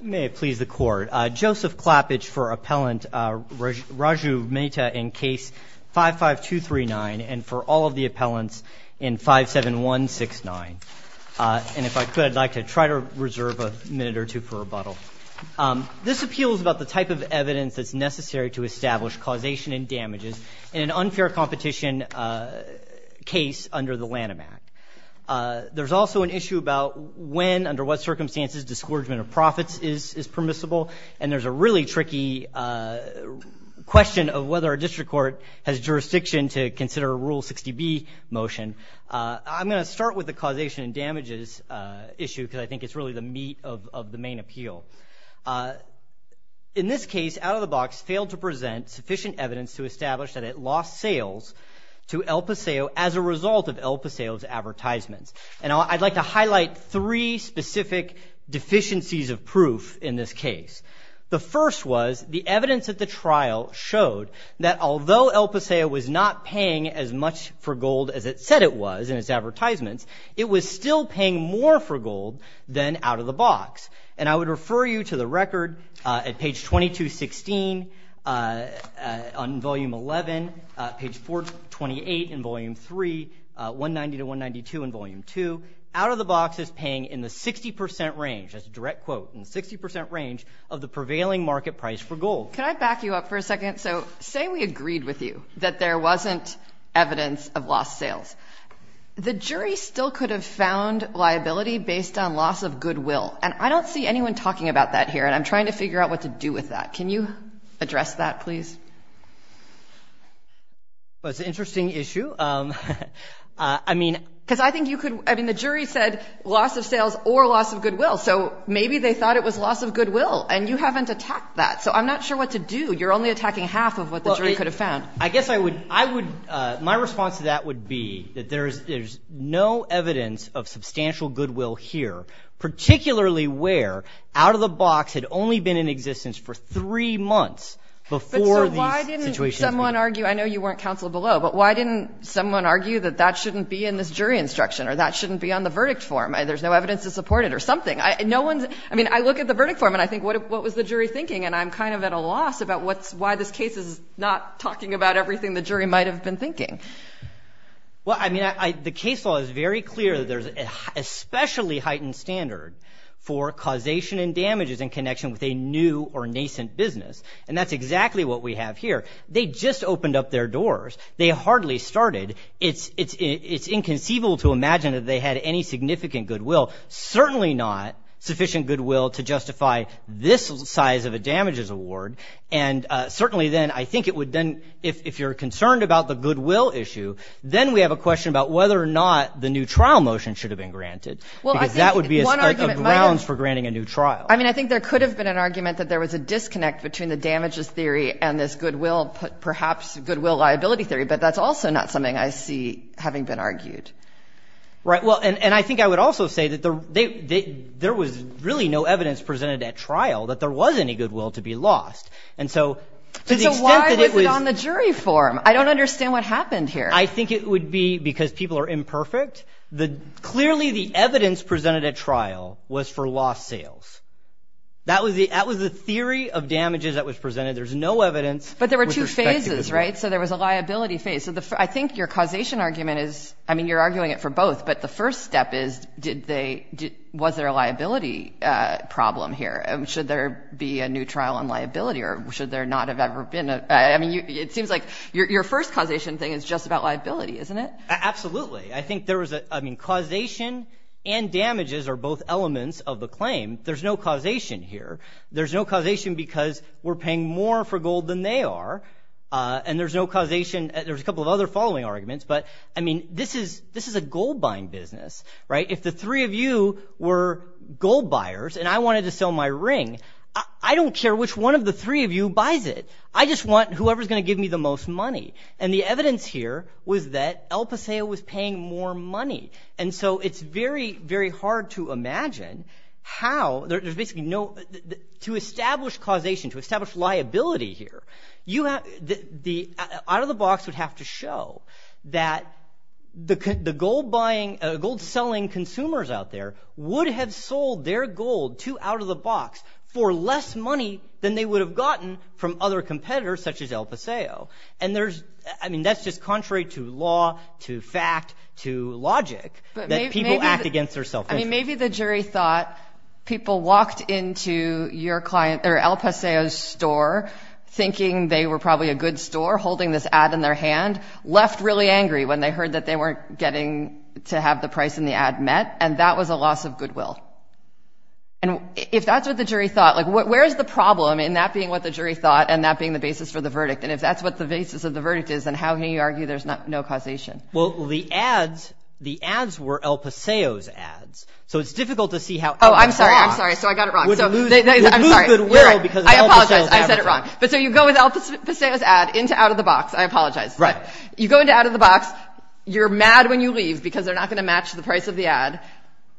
May it please the court. Joseph Klappage for Appellant Raju Mehta in Case 55239 and for all of the appellants in 57169. And if I could, I'd like to try to reserve a minute or two for rebuttal. This appeal is about the type of evidence that's necessary to establish causation and damages in an unfair competition case under the Lanham Act. There's also an issue about when, under what circumstances, disgorgement of profits is permissible. And there's a really tricky question of whether a district court has jurisdiction to consider a Rule 60B motion. I'm going to start with the causation and damages issue because I think it's really the meat of the main appeal. In this case, Out of the Box failed to present sufficient evidence to establish that it lost sales to El Paseo as a result of El Paseo's advertisements. And I'd like to highlight three specific deficiencies of proof in this case. The first was the evidence at the trial showed that although El Paseo was not paying as much for gold as it said it was in its advertisements, it was still paying more for gold than Out of the Box. And I would refer you to the record at page 2216 on Volume 11, page 428 in Volume 3, 190 to 192 in Volume 2. Out of the Box is paying in the 60 percent range, that's a direct quote, in the 60 percent range of the prevailing market price for gold. Can I back you up for a second? So say we agreed with you that there wasn't evidence of lost sales. The jury still could have found liability based on loss of goodwill. And I don't see anyone talking about that here, and I'm trying to figure out what to do with that. Can you address that, please? Well, it's an interesting issue. I mean, because I think you could – I mean, the jury said loss of sales or loss of goodwill. So maybe they thought it was loss of goodwill, and you haven't attacked that. So I'm not sure what to do. You're only attacking half of what the jury could have found. I guess I would – my response to that would be that there's no evidence of substantial goodwill here, particularly where Out of the Box had only been in existence for three months before these situations. But, sir, why didn't someone argue – I know you weren't counsel below, but why didn't someone argue that that shouldn't be in this jury instruction or that shouldn't be on the verdict form? There's no evidence to support it or something. No one's – I mean, I look at the verdict form, and I think, what was the jury thinking? And I'm kind of at a loss about what's – why this case is not talking about everything the jury might have been thinking. Well, I mean, the case law is very clear that there's an especially heightened standard for causation and damages in connection with a new or nascent business, and that's exactly what we have here. They just opened up their doors. They hardly started. It's inconceivable to imagine that they had any significant goodwill, certainly not sufficient goodwill to justify this size of a damages award, and certainly then I think it would then – if you're concerned about the goodwill issue, then we have a question about whether or not the new trial motion should have been granted, because that would be a grounds for granting a new trial. I mean, I think there could have been an argument that there was a disconnect between the damages theory and this goodwill – perhaps goodwill liability theory, but that's also not something I see having been argued. Right. Well, and I think I would also say that there was really no evidence presented at trial that there was any goodwill to be lost, and so to the extent that it was – So why was it on the jury form? I don't understand what happened here. I think it would be because people are imperfect. Clearly, the evidence presented at trial was for lost sales. That was the theory of damages that was presented. There's no evidence – But there were two phases, right? So there was a liability phase. I think your causation argument is – I mean, you're arguing it for both, but the first step is did they – was there a liability problem here? Should there be a new trial on liability, or should there not have ever been a – I mean, it seems like your first causation thing is just about liability, isn't it? Absolutely. I think there was a – I mean, causation and damages are both elements of the claim. There's no causation here. There's no causation because we're paying more for gold than they are, and there's no causation – there's a couple of other following arguments, but, I mean, this is a gold-buying business, right? If the three of you were gold buyers and I wanted to sell my ring, I don't care which one of the three of you buys it. I just want whoever's going to give me the most money, and the evidence here was that El Paseo was paying more money. And so it's very, very hard to imagine how – there's basically no – to establish causation, to establish liability here, the out-of-the-box would have to show that the gold-selling consumers out there would have sold their gold to out-of-the-box for less money than they would have gotten from other competitors such as El Paseo. And there's – I mean, that's just contrary to law, to fact, to logic, that people act against their selfishness. I mean, maybe the jury thought people walked into your client – or El Paseo's store, thinking they were probably a good store, holding this ad in their hand, left really angry when they heard that they weren't getting to have the price in the ad met, and that was a loss of goodwill. And if that's what the jury thought – like, where's the problem in that being what the jury thought and that being the basis for the verdict? And if that's what the basis of the verdict is, then how can you argue there's no causation? Well, the ads – the ads were El Paseo's ads, so it's difficult to see how El Paseo – Oh, I'm sorry, I'm sorry. So I got it wrong. They would lose goodwill because of El Paseo's advertising. I apologize. I said it wrong. But so you go with El Paseo's ad into out-of-the-box – I apologize. Right. You go into out-of-the-box. You're mad when you leave because they're not going to match the price of the ad.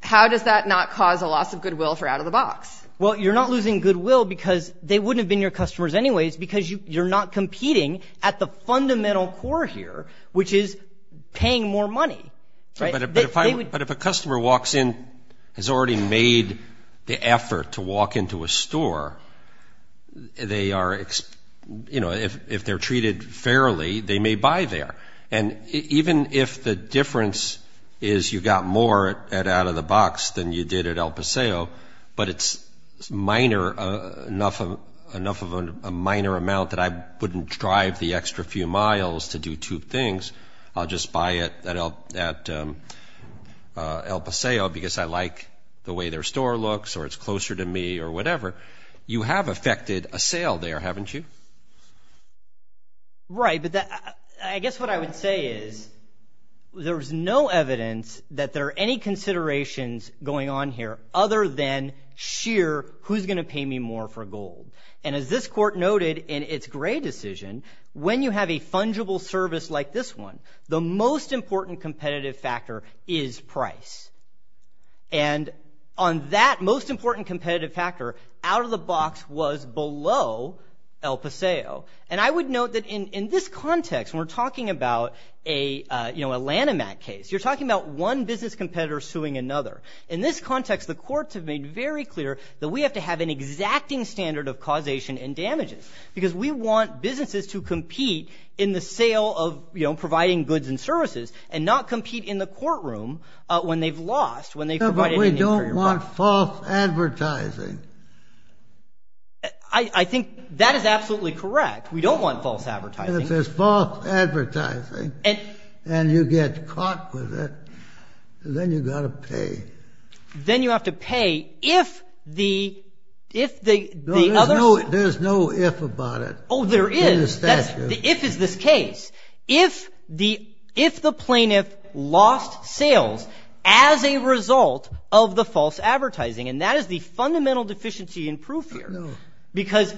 How does that not cause a loss of goodwill for out-of-the-box? Well, you're not losing goodwill because they wouldn't have been your customers anyways because you're not competing at the fundamental core here, which is paying more money, right? But if a customer walks in, has already made the effort to walk into a store, they are – if they're treated fairly, they may buy there. And even if the difference is you got more at out-of-the-box than you did at El Paseo, but it's minor, enough of a minor amount that I wouldn't drive the extra few miles to do two things. I'll just buy it at El Paseo because I like the way their store looks or it's closer to me or whatever. You have affected a sale there, haven't you? Right, but I guess what I would say is there's no evidence that there are any considerations going on here other than sheer who's going to pay me more for gold. And as this court noted in its Gray decision, when you have a fungible service like this one, the most important competitive factor is price. And on that most important competitive factor, out-of-the-box was below El Paseo. And I would note that in this context, when we're talking about a Lanham Act case, you're talking about one business competitor suing another. In this context, the courts have made very clear that we have to have an exacting standard of causation and damages because we want businesses to compete in the sale of providing goods and services and not compete in the courtroom when they've lost, when they've provided an injury. But we don't want false advertising. I think that is absolutely correct. We don't want false advertising. If there's false advertising and you get caught with it, then you've got to pay. Then you have to pay if the other— No, there's no if about it. Oh, there is. In the statute. The if is this case. If the plaintiff lost sales as a result of the false advertising, and that is the fundamental deficiency in proof here. Because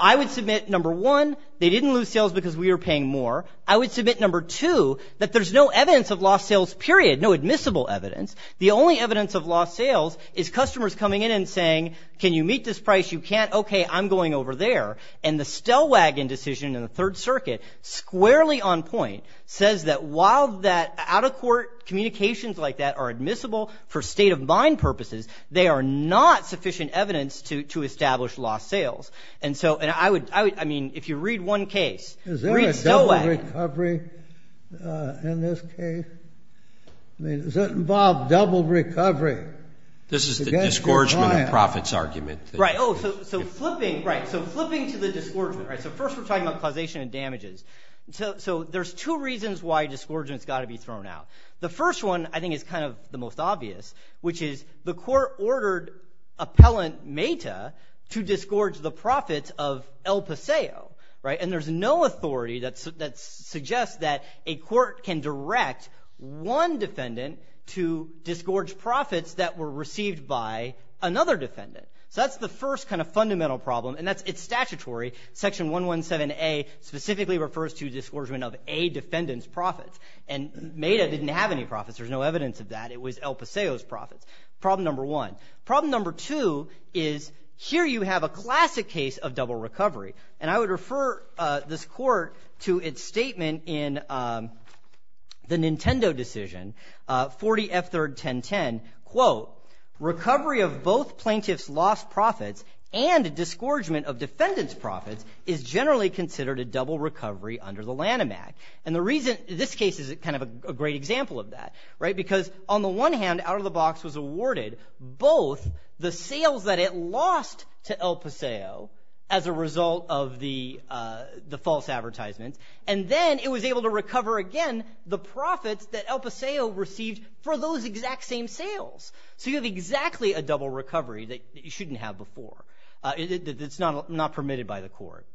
I would submit, number one, they didn't lose sales because we were paying more. I would submit, number two, that there's no evidence of lost sales, period, no admissible evidence. The only evidence of lost sales is customers coming in and saying, can you meet this price? You can't. Okay, I'm going over there. And the Stellwagen decision in the Third Circuit, squarely on point, says that while that out-of-court communications like that are admissible for state-of-mind purposes, they are not sufficient evidence to establish lost sales. And so I would—I mean, if you read one case— Is there a double recovery in this case? I mean, does that involve double recovery? This is the disgorgement of profits argument. Right. Oh, so flipping to the disgorgement. So first we're talking about causation and damages. So there's two reasons why disgorgement's got to be thrown out. The first one, I think, is kind of the most obvious, which is the court ordered appellant Mata to disgorge the profits of El Paseo. And there's no authority that suggests that a court can direct one defendant to disgorge profits that were received by another defendant. So that's the first kind of fundamental problem, and it's statutory. Section 117A specifically refers to disgorgement of a defendant's profits. And Mata didn't have any profits. There's no evidence of that. It was El Paseo's profits. Problem number one. Problem number two is here you have a classic case of double recovery. And I would refer this court to its statement in the Nintendo decision, 40F3-1010. Quote, recovery of both plaintiff's lost profits and disgorgement of defendant's profits is generally considered a double recovery under the Lanham Act. And the reason this case is kind of a great example of that, right, because on the one hand, out of the box was awarded both the sales that it lost to El Paseo as a result of the false advertisements, and then it was able to recover again the profits that El Paseo received for those exact same sales. So you have exactly a double recovery that you shouldn't have before. It's not permitted by the court.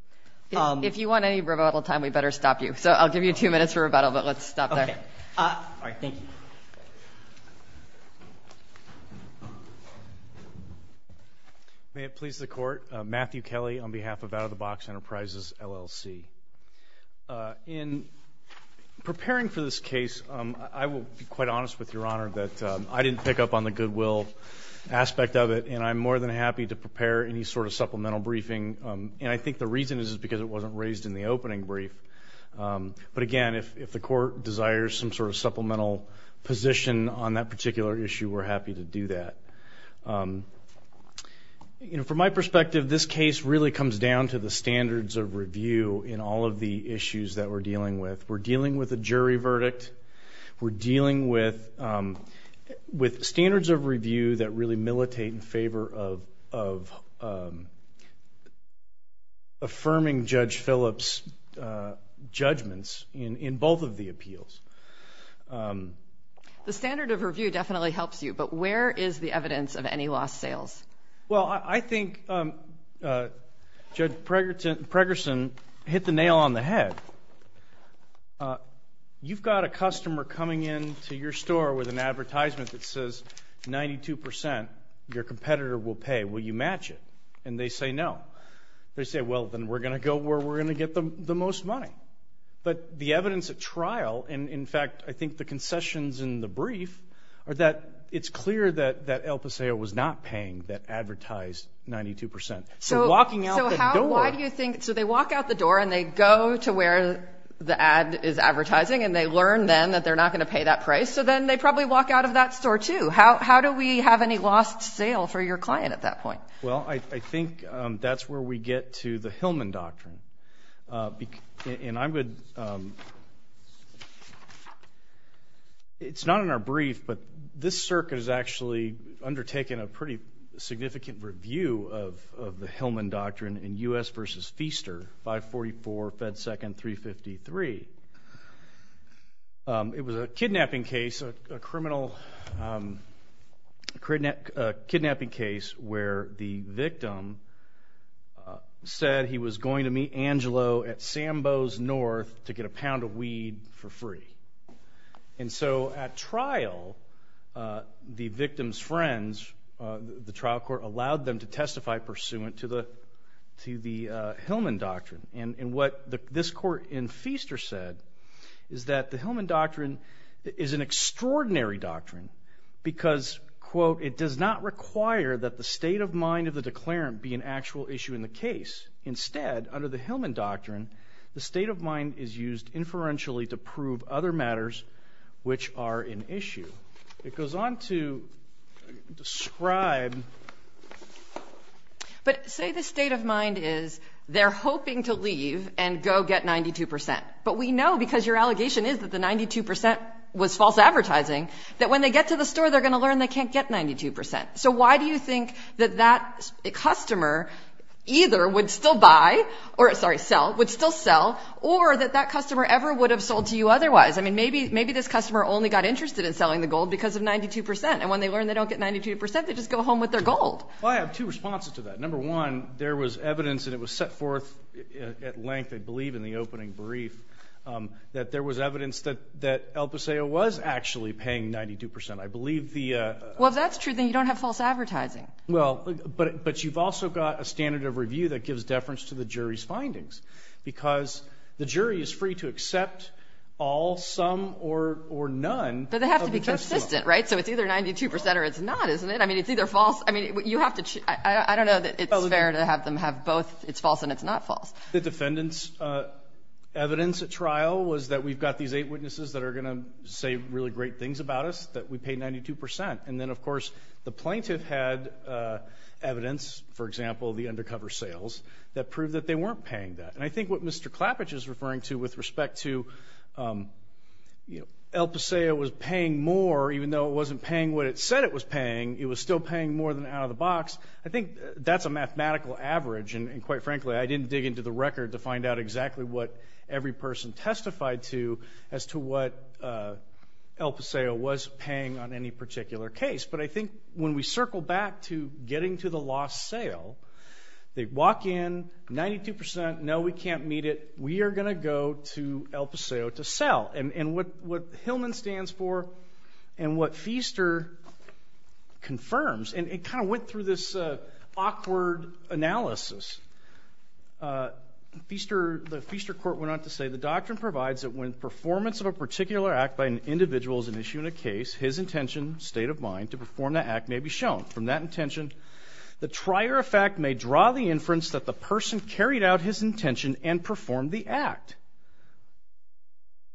If you want any rebuttal time, we better stop you. So I'll give you two minutes for rebuttal, but let's stop there. All right. Thank you. May it please the Court. Matthew Kelly on behalf of Out-of-the-Box Enterprises, LLC. In preparing for this case, I will be quite honest with Your Honor that I didn't pick up on the goodwill aspect of it, and I'm more than happy to prepare any sort of supplemental briefing. And I think the reason is because it wasn't raised in the opening brief. But, again, if the court desires some sort of supplemental position on that particular issue, we're happy to do that. From my perspective, this case really comes down to the standards of review in all of the issues that we're dealing with. We're dealing with a jury verdict. We're dealing with standards of review that really militate in favor of affirming Judge Phillips' judgments in both of the appeals. The standard of review definitely helps you, but where is the evidence of any lost sales? Well, I think Judge Pregerson hit the nail on the head. You've got a customer coming into your store with an advertisement that says 92 percent, your competitor will pay. Will you match it? And they say no. They say, well, then we're going to go where we're going to get the most money. But the evidence at trial, and, in fact, I think the concessions in the brief, are that it's clear that El Paseo was not paying that advertised 92 percent. So they walk out the door and they go to where the ad is advertising, and they learn then that they're not going to pay that price, so then they probably walk out of that store, too. How do we have any lost sale for your client at that point? Well, I think that's where we get to the Hillman Doctrine. And I would – it's not in our brief, but this circuit has actually undertaken a pretty significant review of the Hillman Doctrine in U.S. v. Feaster, 544 Fed 2nd 353. It was a kidnapping case, a criminal kidnapping case, where the victim said he was going to meet Angelo at Sambo's North to get a pound of weed for free. And so at trial, the victim's friends, the trial court, allowed them to testify pursuant to the Hillman Doctrine. And what this court in Feaster said is that the Hillman Doctrine is an extraordinary doctrine because, quote, it does not require that the state of mind of the declarant be an actual issue in the case. Instead, under the Hillman Doctrine, the state of mind is used inferentially to prove other matters which are an issue. It goes on to describe – But we know, because your allegation is that the 92 percent was false advertising, that when they get to the store, they're going to learn they can't get 92 percent. So why do you think that that customer either would still buy or – sorry, sell – would still sell, or that that customer ever would have sold to you otherwise? I mean, maybe this customer only got interested in selling the gold because of 92 percent. And when they learn they don't get 92 percent, they just go home with their gold. I have two responses to that. Number one, there was evidence, and it was set forth at length, I believe, in the opening brief, that there was evidence that El Paseo was actually paying 92 percent. I believe the – Well, if that's true, then you don't have false advertising. Well, but you've also got a standard of review that gives deference to the jury's findings because the jury is free to accept all, some, or none of the customer. But they have to be consistent, right? So it's either 92 percent or it's not, isn't it? I mean, it's either false – I mean, you have to – I don't know that it's fair to have them have both – it's false and it's not false. The defendant's evidence at trial was that we've got these eight witnesses that are going to say really great things about us, that we pay 92 percent. And then, of course, the plaintiff had evidence, for example, the undercover sales, that proved that they weren't paying that. And I think what Mr. Klappich is referring to with respect to El Paseo was paying more, even though it wasn't paying what it said it was paying, it was still paying more than out of the box. I think that's a mathematical average, and quite frankly, I didn't dig into the record to find out exactly what every person testified to as to what El Paseo was paying on any particular case. But I think when we circle back to getting to the lost sale, they walk in, 92 percent, no, we can't meet it, we are going to go to El Paseo to sell. And what Hillman stands for and what Feaster confirms, and it kind of went through this awkward analysis, the Feaster court went on to say, the doctrine provides that when performance of a particular act by an individual is an issue in a case, his intention, state of mind, to perform that act may be shown. From that intention, the trier of fact may draw the inference that the person carried out his intention and performed the act.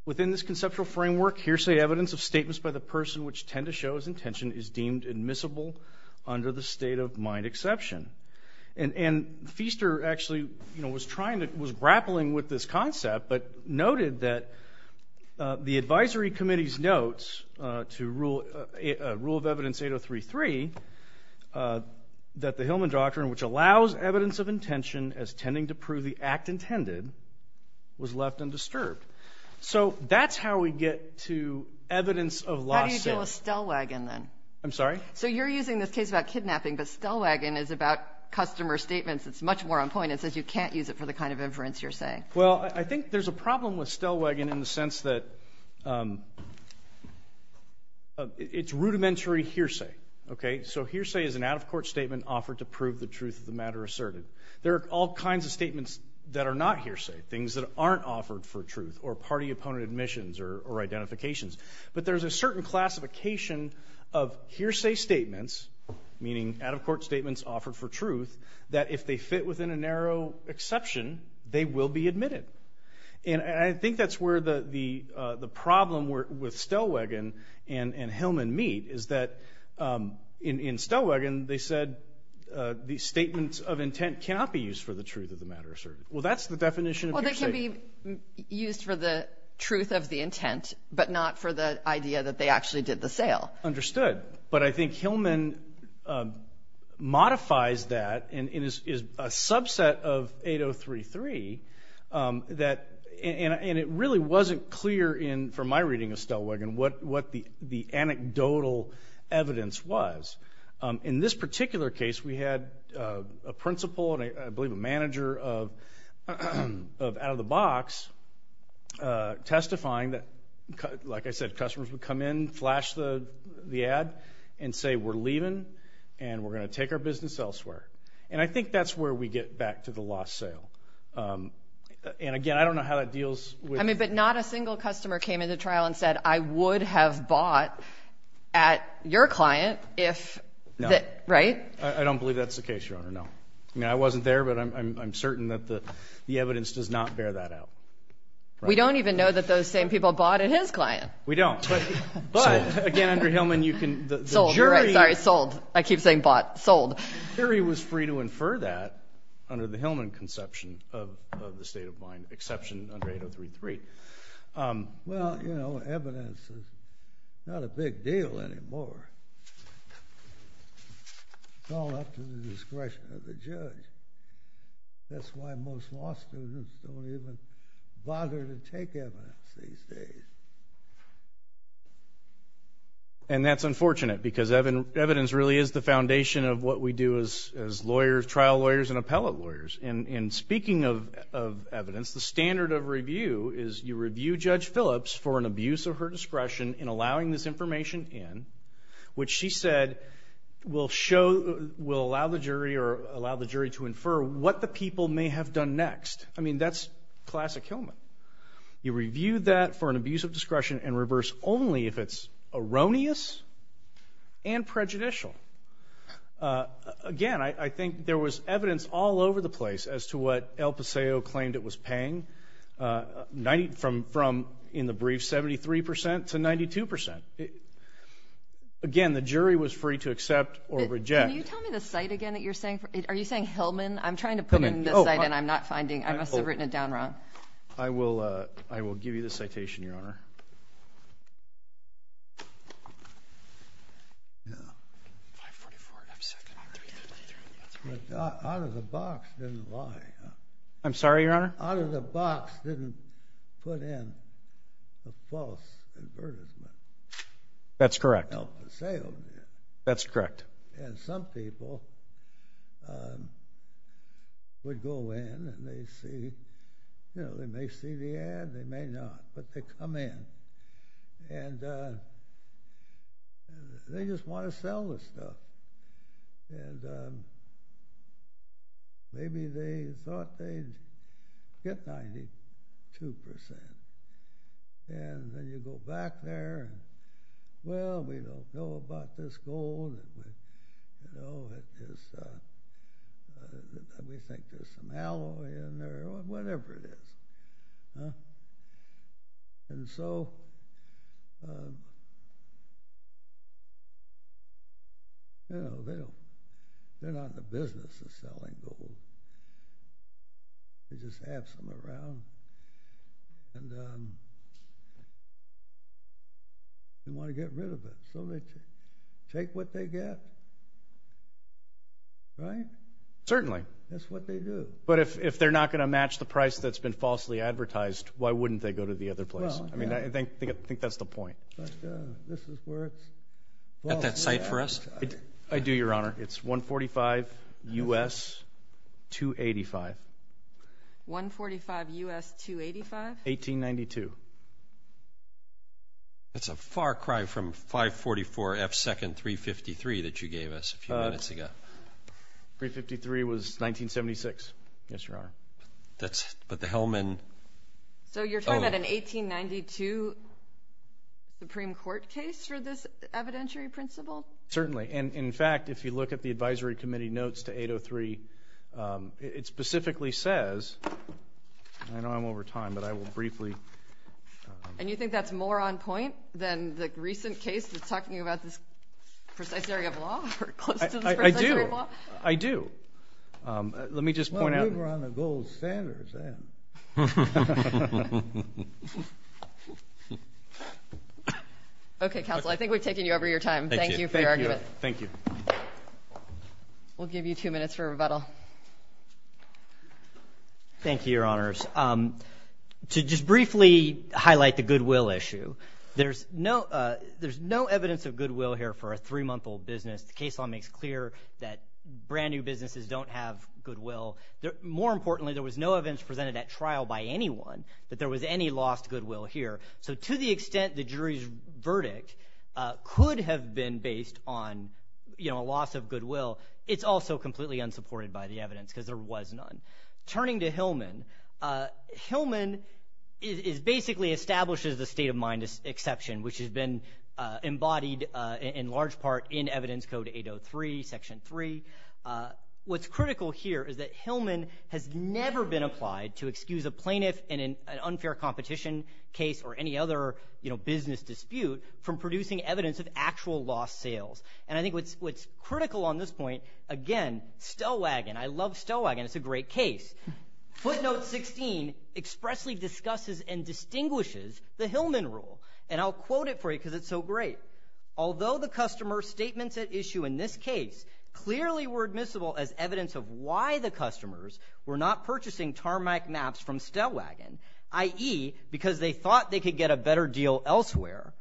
Within this conceptual framework, hearsay evidence of statements by the person which tend to show his intention is deemed admissible under the state of mind exception. And Feaster actually was grappling with this concept, but noted that the advisory committee's notes to Rule of Evidence 8033 that the Hillman doctrine, which allows evidence of intention as tending to prove the act intended, was left undisturbed. So that's how we get to evidence of lost sale. How do you deal with Stellwagen then? I'm sorry? So you're using this case about kidnapping, but Stellwagen is about customer statements that's much more on point. It says you can't use it for the kind of inference you're saying. Well, I think there's a problem with Stellwagen in the sense that it's rudimentary hearsay. So hearsay is an out-of-court statement offered to prove the truth of the matter asserted. There are all kinds of statements that are not hearsay, things that aren't offered for truth, or party-opponent admissions or identifications. But there's a certain classification of hearsay statements, meaning out-of-court statements offered for truth, that if they fit within a narrow exception, they will be admitted. And I think that's where the problem with Stellwagen and Hillman meet, is that in Stellwagen they said these statements of intent cannot be used for the truth of the matter asserted. Well, that's the definition of hearsay. Well, they can be used for the truth of the intent, but not for the idea that they actually did the sale. Understood. But I think Hillman modifies that and is a subset of 8033, and it really wasn't clear from my reading of Stellwagen what the anecdotal evidence was. In this particular case, we had a principal and I believe a manager of Out-of-the-Box testifying that, like I said, customers would come in, flash the ad, and say, we're leaving and we're going to take our business elsewhere. And I think that's where we get back to the lost sale. And, again, I don't know how that deals with – I mean, but not a single customer came into trial and said, I would have bought at your client if – No. Right? I don't believe that's the case, Your Honor. No. I mean, I wasn't there, but I'm certain that the evidence does not bear that out. We don't even know that those same people bought at his client. We don't. But, again, under Hillman you can – Sold. You're right. Sorry, sold. I keep saying bought. Sold. Kerry was free to infer that under the Hillman conception of the state of mind, exception under 8033. Well, you know, evidence is not a big deal anymore. It's all up to the discretion of the judge. That's why most law students don't even bother to take evidence these days. And that's unfortunate because evidence really is the foundation of what we do as lawyers, trial lawyers and appellate lawyers. And speaking of evidence, the standard of review is you review Judge Phillips for an abuse of her discretion in allowing this information in, which she said will allow the jury to infer what the people may have done next. I mean, that's classic Hillman. You review that for an abuse of discretion and reverse only if it's erroneous and prejudicial. Again, I think there was evidence all over the place as to what El Paseo claimed it was paying, from, in the brief, 73 percent to 92 percent. Again, the jury was free to accept or reject. Can you tell me the site again that you're saying? Are you saying Hillman? I'm trying to put in the site and I'm not finding. I must have written it down wrong. I will give you the citation, Your Honor. Out of the box didn't lie. I'm sorry, Your Honor? Out of the box didn't put in a false advertisement. That's correct. El Paseo did. That's correct. And some people would go in and they see, you know, they may see the ad, they may not, but they come in and they just want to sell the stuff. And maybe they thought they'd get 92 percent. And then you go back there and, well, we don't know about this gold. You know, we think there's some alloy in there or whatever it is. And so, you know, they're not in the business of selling gold. They just have some around and want to get rid of it. So they take what they get, right? Certainly. That's what they do. But if they're not going to match the price that's been falsely advertised, why wouldn't they go to the other place? I mean, I think that's the point. But this is where it's at. That site for us? I do, Your Honor. It's 145 U.S. 285. 145 U.S. 285? 1892. That's a far cry from 544 F. Second 353 that you gave us a few minutes ago. 353 was 1976. Yes, Your Honor. But the Hellman? So you're talking about an 1892 Supreme Court case for this evidentiary principle? Certainly. And, in fact, if you look at the advisory committee notes to 803, it specifically says, I know I'm over time, but I will briefly. And you think that's more on point than the recent case that's talking about this precise area of law or close to this precise area of law? I do. I do. Let me just point out. Well, we were on the gold standards then. Okay, counsel, I think we've taken you over your time. Thank you for your argument. Thank you. We'll give you two minutes for rebuttal. Thank you, Your Honors. To just briefly highlight the goodwill issue, there's no evidence of goodwill here for a three-month-old business. The case law makes clear that brand-new businesses don't have goodwill. More importantly, there was no evidence presented at trial by anyone that there was any lost goodwill here. So to the extent the jury's verdict could have been based on a loss of goodwill, it's also completely unsupported by the evidence because there was none. Turning to Hillman, Hillman basically establishes the state-of-mind exception, which has been embodied in large part in Evidence Code 803, Section 3. What's critical here is that Hillman has never been applied to excuse a plaintiff in an unfair competition case or any other business dispute from producing evidence of actual lost sales. And I think what's critical on this point, again, Stellwagen. I love Stellwagen. It's a great case. Footnote 16 expressly discusses and distinguishes the Hillman rule, and I'll quote it for you because it's so great. Although the customer statements at issue in this case clearly were admissible as evidence of why the customers were not purchasing tarmac maps from Stellwagen, i.e., because they thought they could get a better deal elsewhere,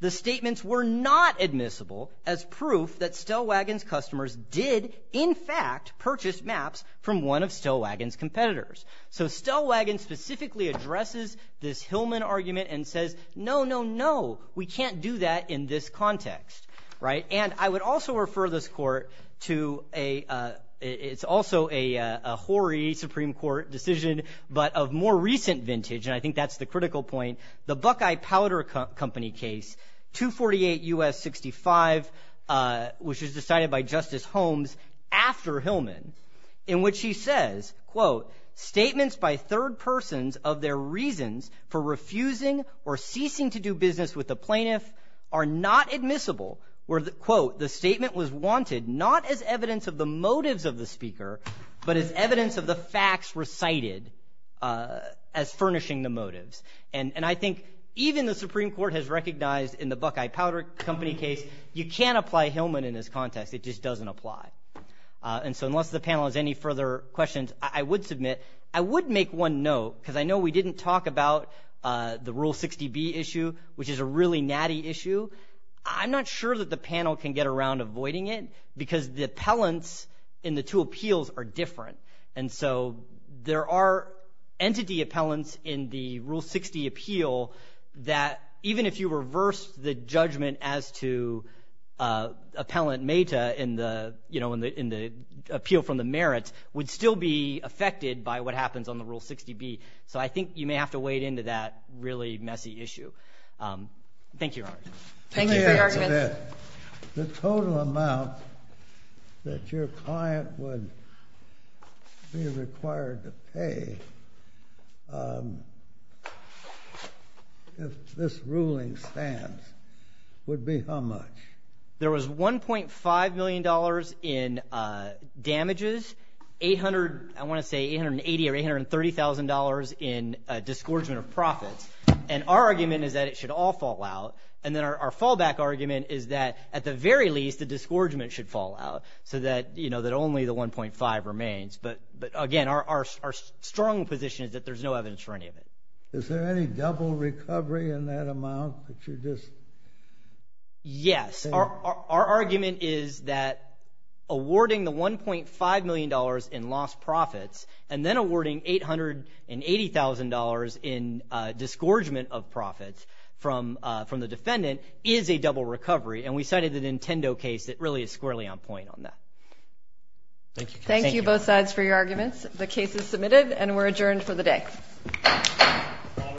the statements were not admissible as proof that Stellwagen's customers did, in fact, purchase maps from one of Stellwagen's competitors. So Stellwagen specifically addresses this Hillman argument and says, no, no, no, we can't do that in this context. And I would also refer this court to a – it's also a hoary Supreme Court decision, but of more recent vintage, and I think that's the critical point. The Buckeye Powder Company case, 248 U.S. 65, which was decided by Justice Holmes after Hillman, in which he says, quote, statements by third persons of their reasons for refusing or ceasing to do business with the plaintiff are not admissible, where, quote, the statement was wanted not as evidence of the motives of the speaker, but as evidence of the facts recited as furnishing the motives. And I think even the Supreme Court has recognized in the Buckeye Powder Company case you can't apply Hillman in this context. It just doesn't apply. And so unless the panel has any further questions, I would submit. I would make one note, because I know we didn't talk about the Rule 60B issue, which is a really natty issue. I'm not sure that the panel can get around avoiding it because the appellants in the two appeals are different. And so there are entity appellants in the Rule 60 appeal that even if you reverse the judgment as to appellant meta in the appeal from the merits would still be affected by what happens on the Rule 60B. So I think you may have to wade into that really messy issue. Thank you, Your Honor. Thank you for your arguments. The total amount that your client would be required to pay if this ruling stands would be how much? There was $1.5 million in damages, $880,000 or $830,000 in disgorgement of profits. And our argument is that it should all fall out. And then our fallback argument is that at the very least the disgorgement should fall out so that only the $1.5 remains. But again, our strong position is that there's no evidence for any of it. Is there any double recovery in that amount that you're just saying? Yes. Our argument is that awarding the $1.5 million in lost profits and then awarding $880,000 in disgorgement of profits from the defendant is a double recovery. And we cited the Nintendo case that really is squarely on point on that. Thank you. Thank you both sides for your arguments. The case is submitted and we're adjourned for the day.